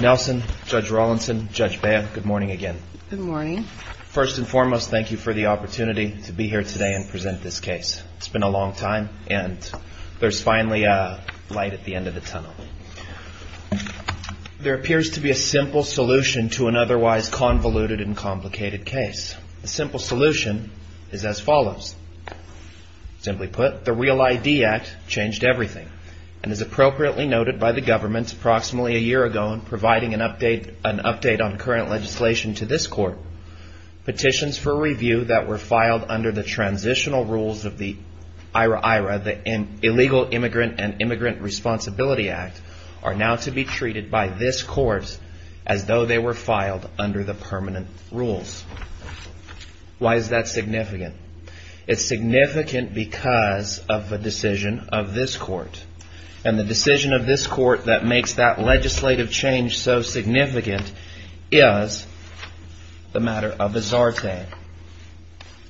Nelson, Judge Rawlinson, Judge Baya, good morning again. Good morning. First and foremost, thank you for the opportunity to be here today and present this case. It's been a long time, and there's finally a light at the end of the tunnel. There appears to be a simple solution to an otherwise convoluted and complicated case. The simple solution is as follows. Simply put, the REAL ID Act changed everything and is appropriately noted by the government approximately a year ago in providing an update on current legislation to this court. Petitions for review that were filed under the transitional rules of the IRA, the Illegal Immigrant and Immigrant Responsibility Act, are now to be treated by this court as though they were filed under the permanent rules. Why is that significant? It's significant because of a decision of this court. And the decision of this court that makes that legislative change so significant is the matter of the Zarte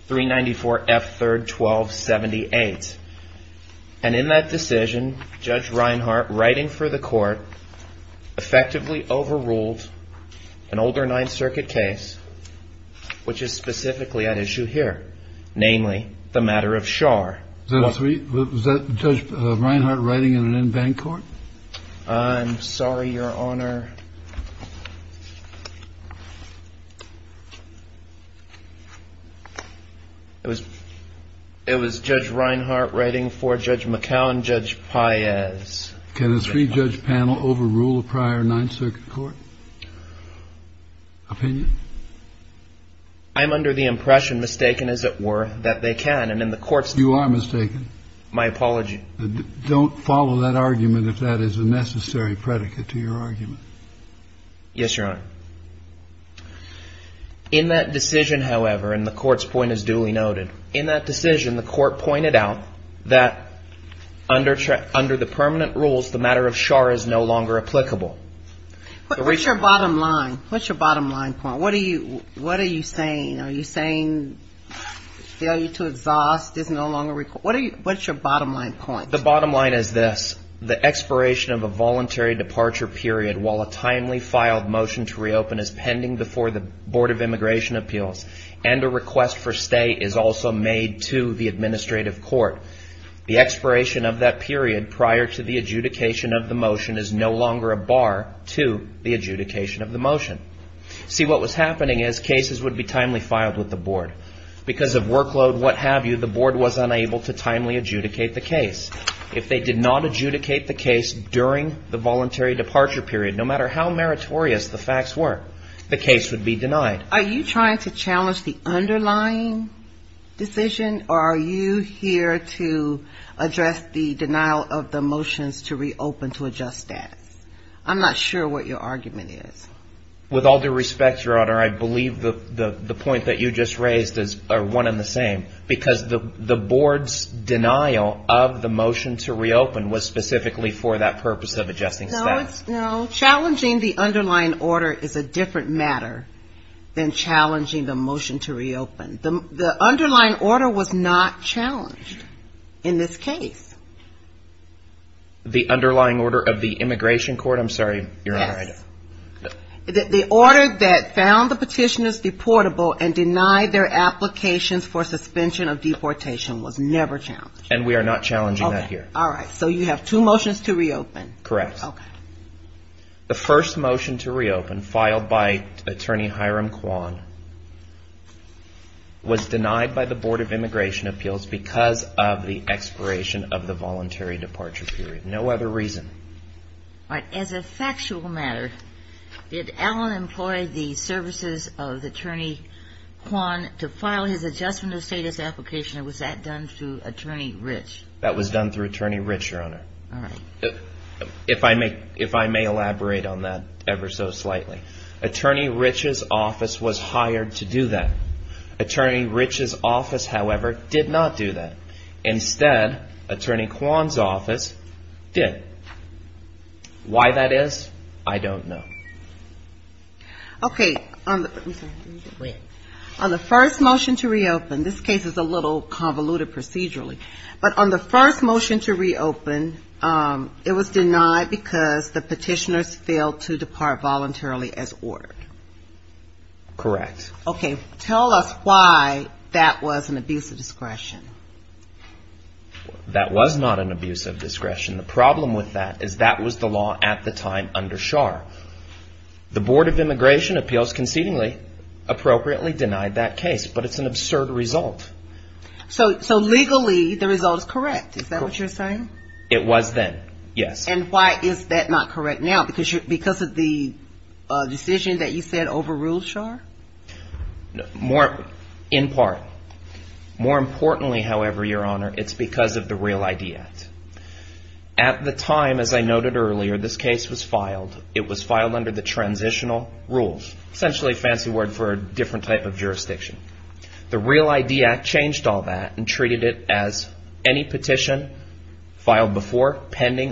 394 F. 3rd. 1278. And in that decision, Judge Reinhart, writing for the court, effectively overruled an older Ninth Circuit case, which is specifically at issue here, namely the matter of Schar. Was that Judge Reinhart writing in an in-bank court? I'm sorry, Your Honor. It was Judge Reinhart writing for Judge McCown, Judge Paez. Can a three-judge panel overrule a prior Ninth Circuit court? Opinion? I'm under the impression, mistaken as it were, that they can. And in the court's terms... You are mistaken. My apology. Don't follow that argument if that is a necessary predicate to your argument. Yes, Your Honor. In that decision, however, and the court's point is duly noted, in that decision the court pointed out that under the permanent rules, the matter of Schar is no longer applicable. What's your bottom line? What's your bottom line point? What are you saying? Are you saying failure to exhaust is no longer required? What's your bottom line point? The bottom line is this. The expiration of a voluntary departure period while a timely filed motion to reopen is pending before the Board of Immigration Appeals and a request for stay is also made to the administrative court. The expiration of that period prior to the adjudication of the motion is no longer a bar to the adjudication of the motion. See, what was happening is cases would be timely filed with the Board. Because of workload, what have you, the Board was unable to timely adjudicate the case. If they did not adjudicate the case during the voluntary departure period, no matter how meritorious the facts were, the case would be denied. Are you trying to challenge the underlying decision or are you here to address the denial of the motions to reopen to adjust status? I'm not sure what your argument is. With all due respect, Your Honor, I believe the point that you just raised is one and the same because the Board's denial of the motion to reopen was specifically for that purpose of adjusting status. Challenging the underlying order is a different matter than challenging the motion to reopen. The underlying order was not challenged in this case. The underlying order of the immigration court? I'm sorry, Your Honor. Yes. The order that found the petitioners deportable and denied their applications for suspension of deportation was never challenged. And we are not challenging that here. All right. So you have two motions to reopen. Correct. The first motion to reopen filed by Attorney Hiram Kwan was denied by the Board of Immigration Appeals because of the expiration of the voluntary departure period. No other reason. As a factual matter, did Allen employ the services of Attorney Kwan to file his adjustment of status application or was that done through Attorney Rich? That was done through Attorney Rich, Your Honor. All right. If I may elaborate on that ever so slightly. Attorney Rich's office was hired to do that. Attorney Rich's office, however, did not do that. Instead, Attorney Kwan's office did. Why that is, I don't know. Okay. On the first motion to reopen, this case is a little convoluted procedurally, but on the first motion to reopen, it was denied because the petitioners failed to depart voluntarily as ordered. Correct. Okay. Tell us why that was an abuse of discretion. That was not an abuse of discretion. The problem with that is that was the law at the time under Schar. The Board of Immigration Appeals concedingly appropriately denied that case, but it's an absurd result. So legally, the result is correct. Is that what you're saying? It was then, yes. And why is that not correct now? Because of the decision that you said overruled Schar? In part. More importantly, however, Your Honor, it's because of the Real ID Act. At the time, as I noted earlier, this case was filed. It was filed under the transitional rules, essentially a fancy word for a different type of jurisdiction. The Real ID Act changed all that and treated it as any petition filed before pending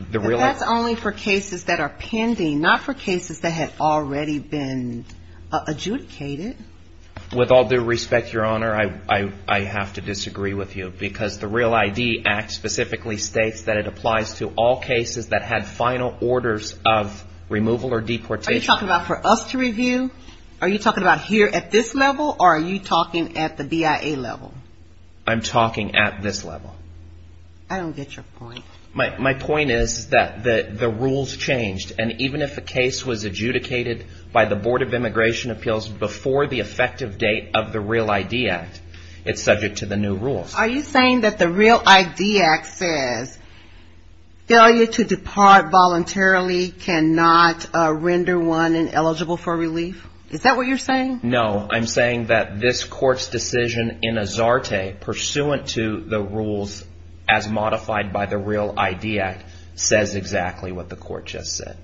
the Real ID Act. But that's only for cases that are pending, not for cases that had already been adjudicated. With all due respect, Your Honor, I have to disagree with you because the Real ID Act specifically states that it applies to all cases that had final orders of removal or deportation. Are you talking about for us to review? Are you talking about here at this level? Or are you talking at the BIA level? I'm talking at this level. I don't get your point. My point is that the rules changed. And even if a case was adjudicated by the Board of Immigration Appeals before the effective date of the Real ID Act, it's subject to the new rules. Are you saying that the Real ID Act says failure to depart voluntarily cannot render one ineligible for relief? Is that what you're saying? No. I'm saying that this Court's decision in Azarte, pursuant to the rules as modified by the Real ID Act, says exactly what the Court just said.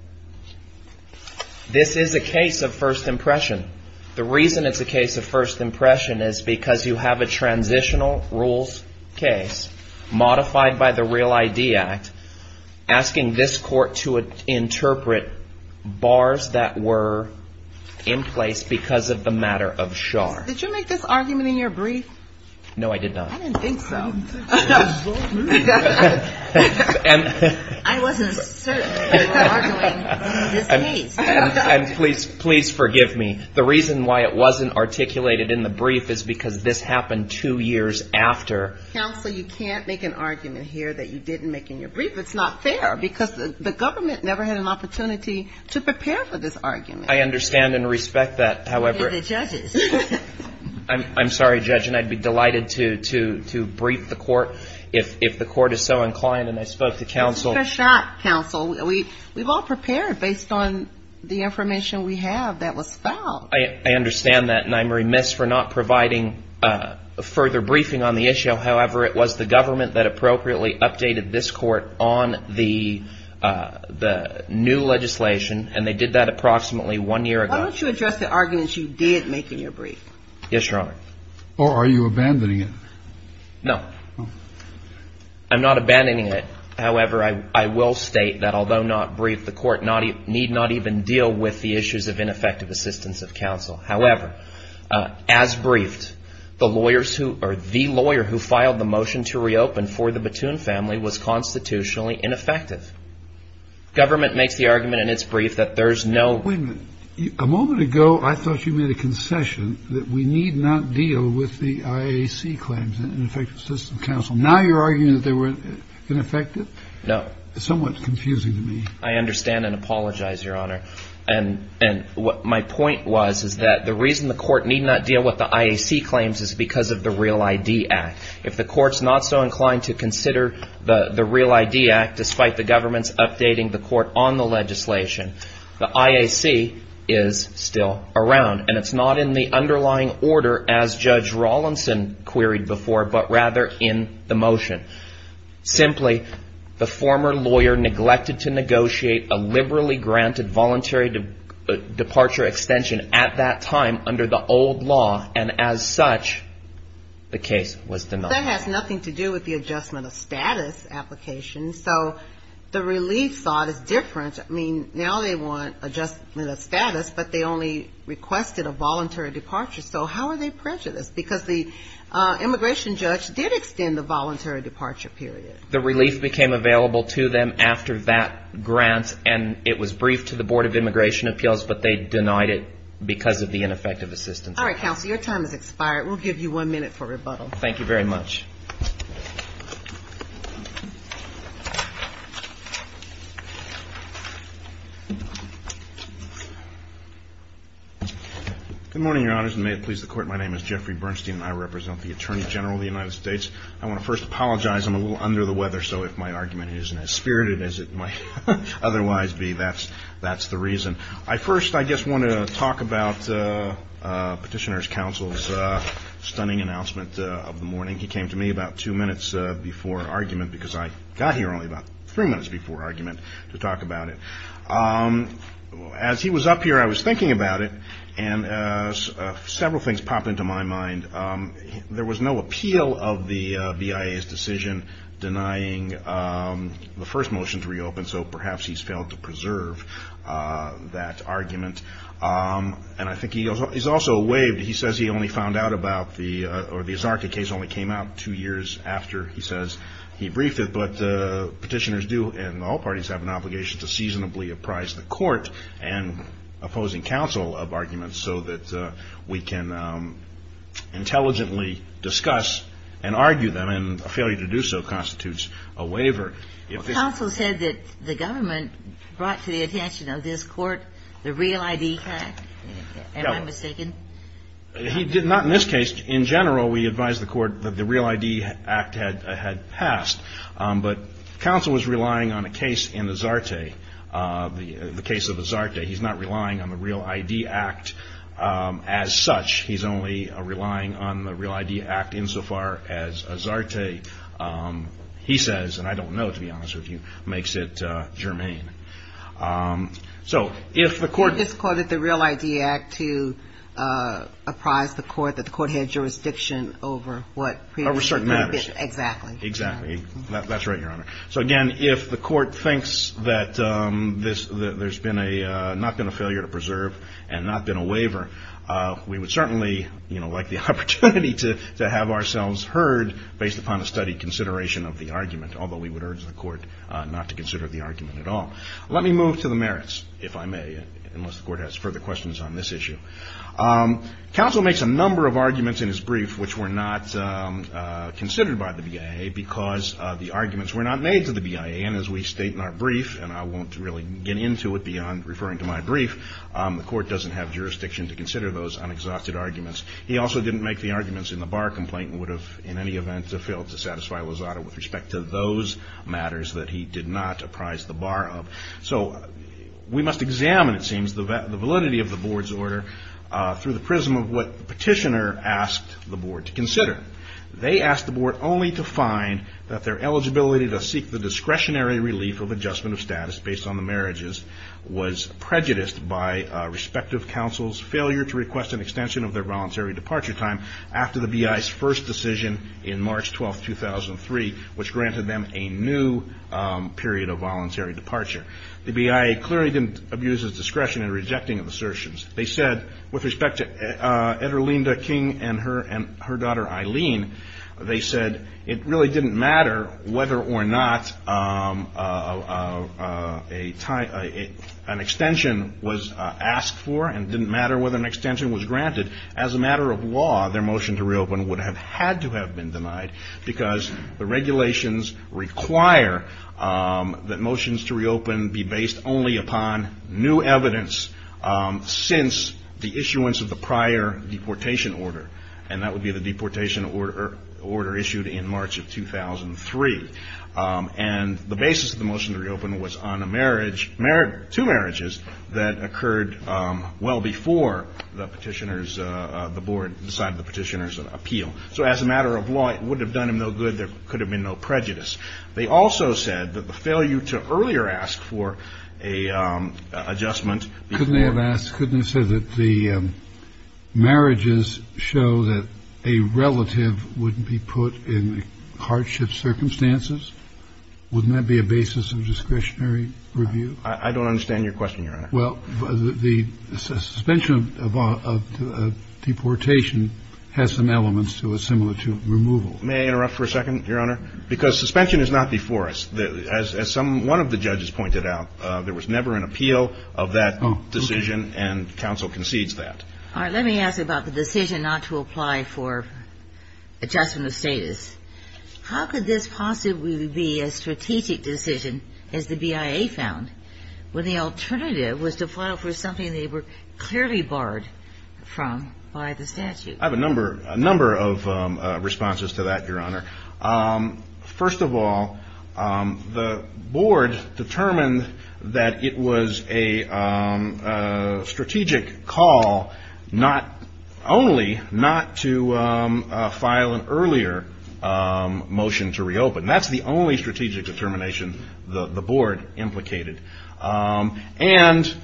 This is a case of first impression. The reason it's a case of first impression is because you have a transitional rules case modified by the Real ID Act asking this Court to interpret bars that were in place because of the matter of CHAR. Did you make this argument in your brief? No, I did not. I didn't think so. I didn't think it was so rude. I wasn't certain that you were arguing in this case. And please forgive me. The reason why it wasn't articulated in the brief is because this happened two years after. Counsel, you can't make an argument here that you didn't make in your brief. It's not fair because the government never had an opportunity to prepare for this argument. I understand and respect that, however. They're the judges. I'm sorry, Judge, and I'd be delighted to brief the Court if the Court is so inclined. And I spoke to counsel. This is for shock, counsel. We've all prepared based on the information we have that was fouled. I understand that, and I'm remiss for not providing further briefing on the issue. However, it was the government that appropriately updated this Court on the new legislation, and they did that approximately one year ago. Why don't you address the argument you did make in your brief? Yes, Your Honor. Or are you abandoning it? No. I'm not abandoning it. However, I will state that although not briefed, the Court need not even deal with the issues of ineffective assistance of counsel. However, as briefed, the lawyers who or the lawyer who filed the motion to reopen for the Batoon family was constitutionally ineffective. Government makes the argument in its brief that there's no – Wait a minute. A moment ago, I thought you made a concession that we need not deal with the IAC claims, Ineffective Assistance of Counsel. Now you're arguing that they were ineffective? No. It's somewhat confusing to me. I understand and apologize, Your Honor. And what my point was is that the reason the Court need not deal with the IAC claims is because of the Real ID Act. If the Court's not so inclined to consider the Real ID Act, despite the government's updating the Court on the legislation, the IAC is still around, and it's not in the underlying order as Judge Rawlinson queried before, but rather in the motion. Simply, the former lawyer neglected to negotiate a liberally granted voluntary departure extension at that time under the old law, and as such, the case was denied. That has nothing to do with the adjustment of status application. So the relief thought is different. I mean, now they want adjustment of status, but they only requested a voluntary departure. So how are they prejudiced? Because the immigration judge did extend the voluntary departure period. The relief became available to them after that grant, and it was briefed to the Board of Immigration Appeals, but they denied it because of the ineffective assistance. All right, counsel. Your time has expired. We'll give you one minute for rebuttal. Thank you very much. Good morning, Your Honors, and may it please the Court. My name is Jeffrey Bernstein, and I represent the Attorney General of the United States. I want to first apologize. I'm a little under the weather, so if my argument isn't as spirited as it might otherwise be, that's the reason. First, I just want to talk about Petitioner's Counsel's stunning announcement of the morning. He came to me about two minutes before argument because I got here only about three minutes before argument to talk about it. As he was up here, I was thinking about it, and several things popped into my mind. There was no appeal of the BIA's decision denying the first motion to reopen, so perhaps he's failed to preserve that argument. And I think he's also waived. He says he only found out about the – or the Zarca case only came out two years after, he says. He briefed it, but Petitioners do in all parties have an obligation to seasonably apprise the Court and opposing counsel of arguments so that we can intelligently discuss and argue them, and a failure to do so constitutes a waiver. Counsel said that the government brought to the attention of this Court the Real ID Act. Am I mistaken? He did not in this case. In general, we advised the Court that the Real ID Act had passed, but counsel was relying on a case in the Zarca, the case of the Zarca. He's not relying on the Real ID Act as such. He's only relying on the Real ID Act insofar as a Zarca, he says, and I don't know to be honest with you, makes it germane. So if the Court – He just quoted the Real ID Act to apprise the Court that the Court had jurisdiction over what – Over certain matters. Exactly. Exactly. That's right, Your Honor. So again, if the Court thinks that there's been a – not been a failure to preserve and not been a waiver, we would certainly, you know, like the opportunity to have ourselves heard based upon a studied consideration of the argument, although we would urge the Court not to consider the argument at all. Let me move to the merits, if I may, unless the Court has further questions on this issue. Counsel makes a number of arguments in his brief which were not considered by the BIA because the arguments were not made to the BIA. And as we state in our brief, and I won't really get into it beyond referring to my brief, the Court doesn't have jurisdiction to consider those unexhausted arguments. He also didn't make the arguments in the bar complaint and would have, in any event, failed to satisfy Lozada with respect to those matters that he did not apprise the bar of. So we must examine, it seems, the validity of the Board's order through the prism of what the petitioner asked the Board to consider. They asked the Board only to find that their eligibility to seek the discretionary relief of adjustment of status based on the marriages was prejudiced by respective counsel's failure to request an extension of their voluntary departure time after the BIA's first decision in March 12, 2003, which granted them a new period of voluntary departure. The BIA clearly didn't abuse its discretion in rejecting of assertions. They said, with respect to Ederlinda King and her daughter Eileen, they said it really didn't matter whether or not an extension was asked for and didn't matter whether an extension was granted. As a matter of law, their motion to reopen would have had to have been denied because the regulations require that motions to reopen be based only upon new evidence since the issuance of the prior deportation order. And that would be the deportation order issued in March of 2003. And the basis of the motion to reopen was on a marriage, two marriages, that occurred well before the petitioner's, the Board decided the petitioner's appeal. So as a matter of law, it wouldn't have done them no good. There could have been no prejudice. They also said that the failure to earlier ask for an adjustment. Couldn't they have asked? Couldn't they have said that the marriages show that a relative wouldn't be put in hardship circumstances? Wouldn't that be a basis of discretionary review? I don't understand your question, Your Honor. Well, the suspension of deportation has some elements to it similar to removal. May I interrupt for a second, Your Honor? Because suspension is not before us. As some one of the judges pointed out, there was never an appeal of that decision and counsel concedes that. All right. Let me ask about the decision not to apply for adjustment of status. How could this possibly be a strategic decision, as the BIA found, when the alternative was to file for something they were clearly barred from by the statute? I have a number of responses to that, Your Honor. First of all, the board determined that it was a strategic call not only not to file an earlier motion to reopen. That's the only strategic determination the board implicated. And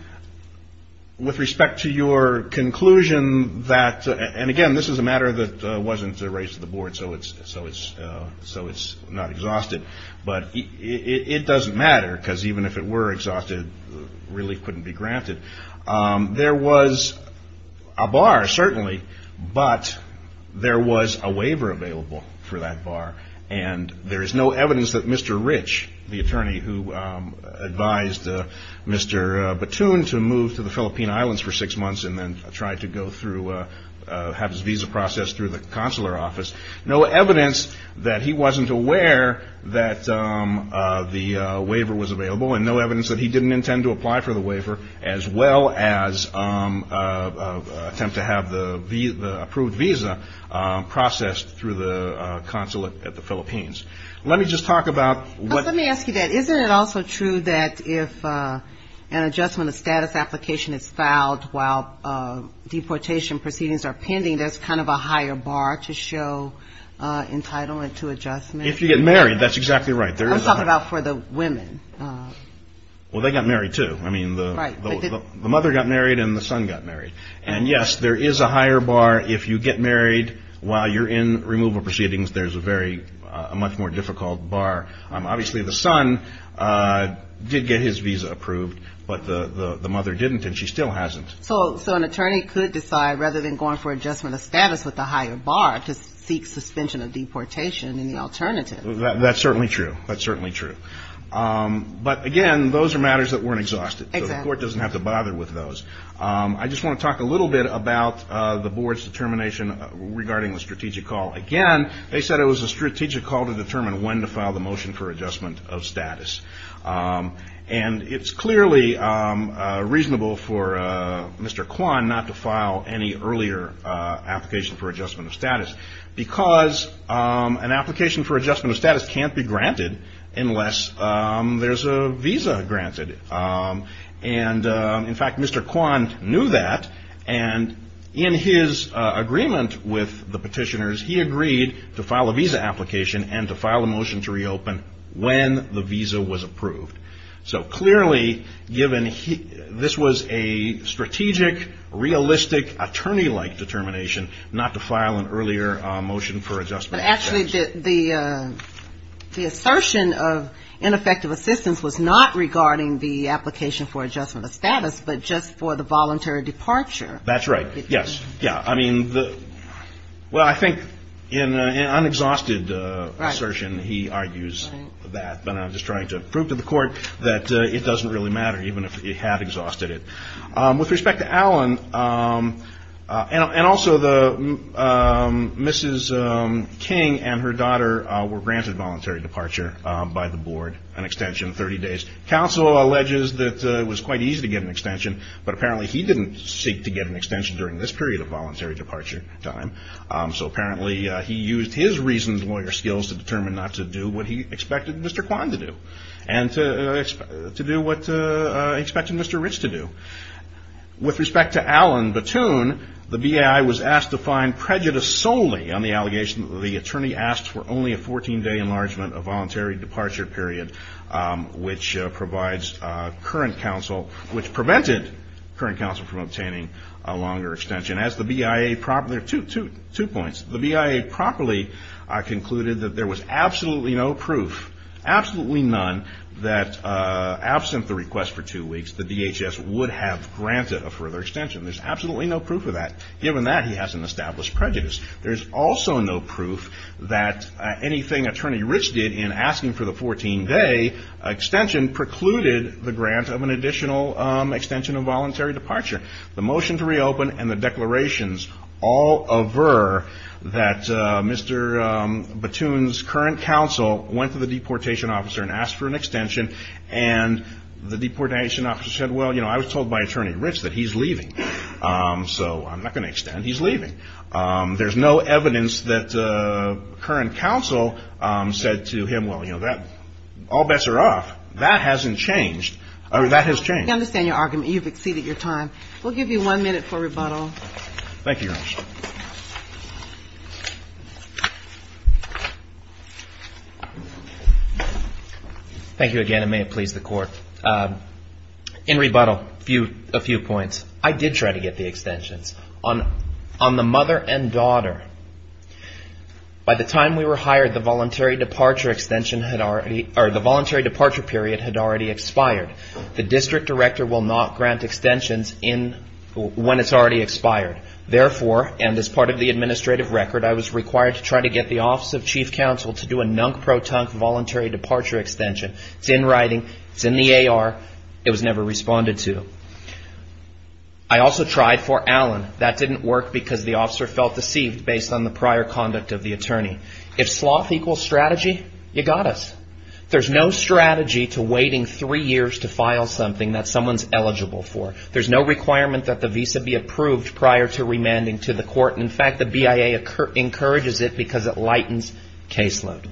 with respect to your conclusion that, and again, this is a matter that wasn't raised to the board, so it's not exhausted. But it doesn't matter because even if it were exhausted, relief couldn't be granted. There was a bar, certainly, but there was a waiver available for that bar. And there is no evidence that Mr. Rich, the attorney who advised Mr. Batun to move to the Philippine Islands for six months and then try to go through, have his visa processed through the consular office, no evidence that he wasn't aware that the waiver was available and no evidence that he didn't intend to apply for the waiver, as well as attempt to have the approved visa processed through the consulate at the Philippines. Let me just talk about what the... Let me ask you that. Isn't it also true that if an adjustment of status application is filed while deportation proceedings are pending, there's kind of a higher bar to show entitlement to adjustment? If you get married, that's exactly right. I'm talking about for the women. Well, they got married, too. I mean, the mother got married and the son got married. And, yes, there is a higher bar if you get married while you're in removal proceedings. There's a very much more difficult bar. Obviously, the son did get his visa approved, but the mother didn't and she still hasn't. So an attorney could decide, rather than going for adjustment of status with the higher bar, to seek suspension of deportation in the alternative. That's certainly true. That's certainly true. But, again, those are matters that weren't exhausted. The court doesn't have to bother with those. I just want to talk a little bit about the board's determination regarding the strategic call. Again, they said it was a strategic call to determine when to file the motion for adjustment of status. And it's clearly reasonable for Mr. Kwan not to file any earlier application for adjustment of status because an application for adjustment of status can't be granted unless there's a visa granted. And, in fact, Mr. Kwan knew that. And in his agreement with the petitioners, he agreed to file a visa application and to file a motion to reopen when the visa was approved. So, clearly, given this was a strategic, realistic, attorney-like determination, not to file an earlier motion for adjustment of status. But, actually, the assertion of ineffective assistance was not regarding the application for adjustment of status, but just for the voluntary departure. That's right. Yes. Yeah. I mean, well, I think in an unexhausted assertion, he argues that. But I'm just trying to prove to the court that it doesn't really matter, even if he had exhausted it. With respect to Alan, and also Mrs. King and her daughter were granted voluntary departure by the board, an extension of 30 days. Counsel alleges that it was quite easy to get an extension, but apparently he didn't seek to get an extension during this period of voluntary departure time. So, apparently, he used his reasoned lawyer skills to determine not to do what he expected Mr. Kwan to do, and to do what he expected Mr. Rich to do. With respect to Alan Batoon, the BIA was asked to find prejudice solely on the allegation that the attorney asked for only a 14-day enlargement of voluntary departure period, which provides current counsel, which prevented current counsel from obtaining a longer extension. As the BIA, there are two points. The BIA properly concluded that there was absolutely no proof, absolutely none, that absent the request for two weeks, the DHS would have granted a further extension. There's absolutely no proof of that. Given that, he has an established prejudice. There's also no proof that anything Attorney Rich did in asking for the 14-day extension precluded the grant of an additional extension of voluntary departure. The motion to reopen and the declarations all aver that Mr. Batoon's current counsel went to the deportation officer and asked for an extension. And the deportation officer said, well, you know, I was told by Attorney Rich that he's leaving. So I'm not going to extend. He's leaving. There's no evidence that current counsel said to him, well, you know, all bets are off. That hasn't changed. That has changed. I understand your argument. You've exceeded your time. We'll give you one minute for rebuttal. Thank you, Your Honor. Thank you again, and may it please the Court. In rebuttal, a few points. I did try to get the extensions. On the mother and daughter, by the time we were hired, the voluntary departure extension had already or the voluntary departure period had already expired. The district director will not grant extensions when it's already expired. Therefore, and as part of the administrative record, I was required to try to get the Office of Chief Counsel to do a nunk-pro-tunk voluntary departure extension. It's in writing. It's in the AR. It was never responded to. I also tried for Allen. That didn't work because the officer felt deceived based on the prior conduct of the attorney. If sloth equals strategy, you got us. There's no strategy to waiting three years to file something that someone's eligible for. There's no requirement that the visa be approved prior to remanding to the court. In fact, the BIA encourages it because it lightens caseload.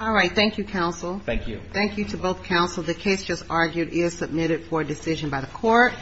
All right. Thank you, counsel. Thank you. Thank you to both counsel. The case just argued is submitted for decision by the court.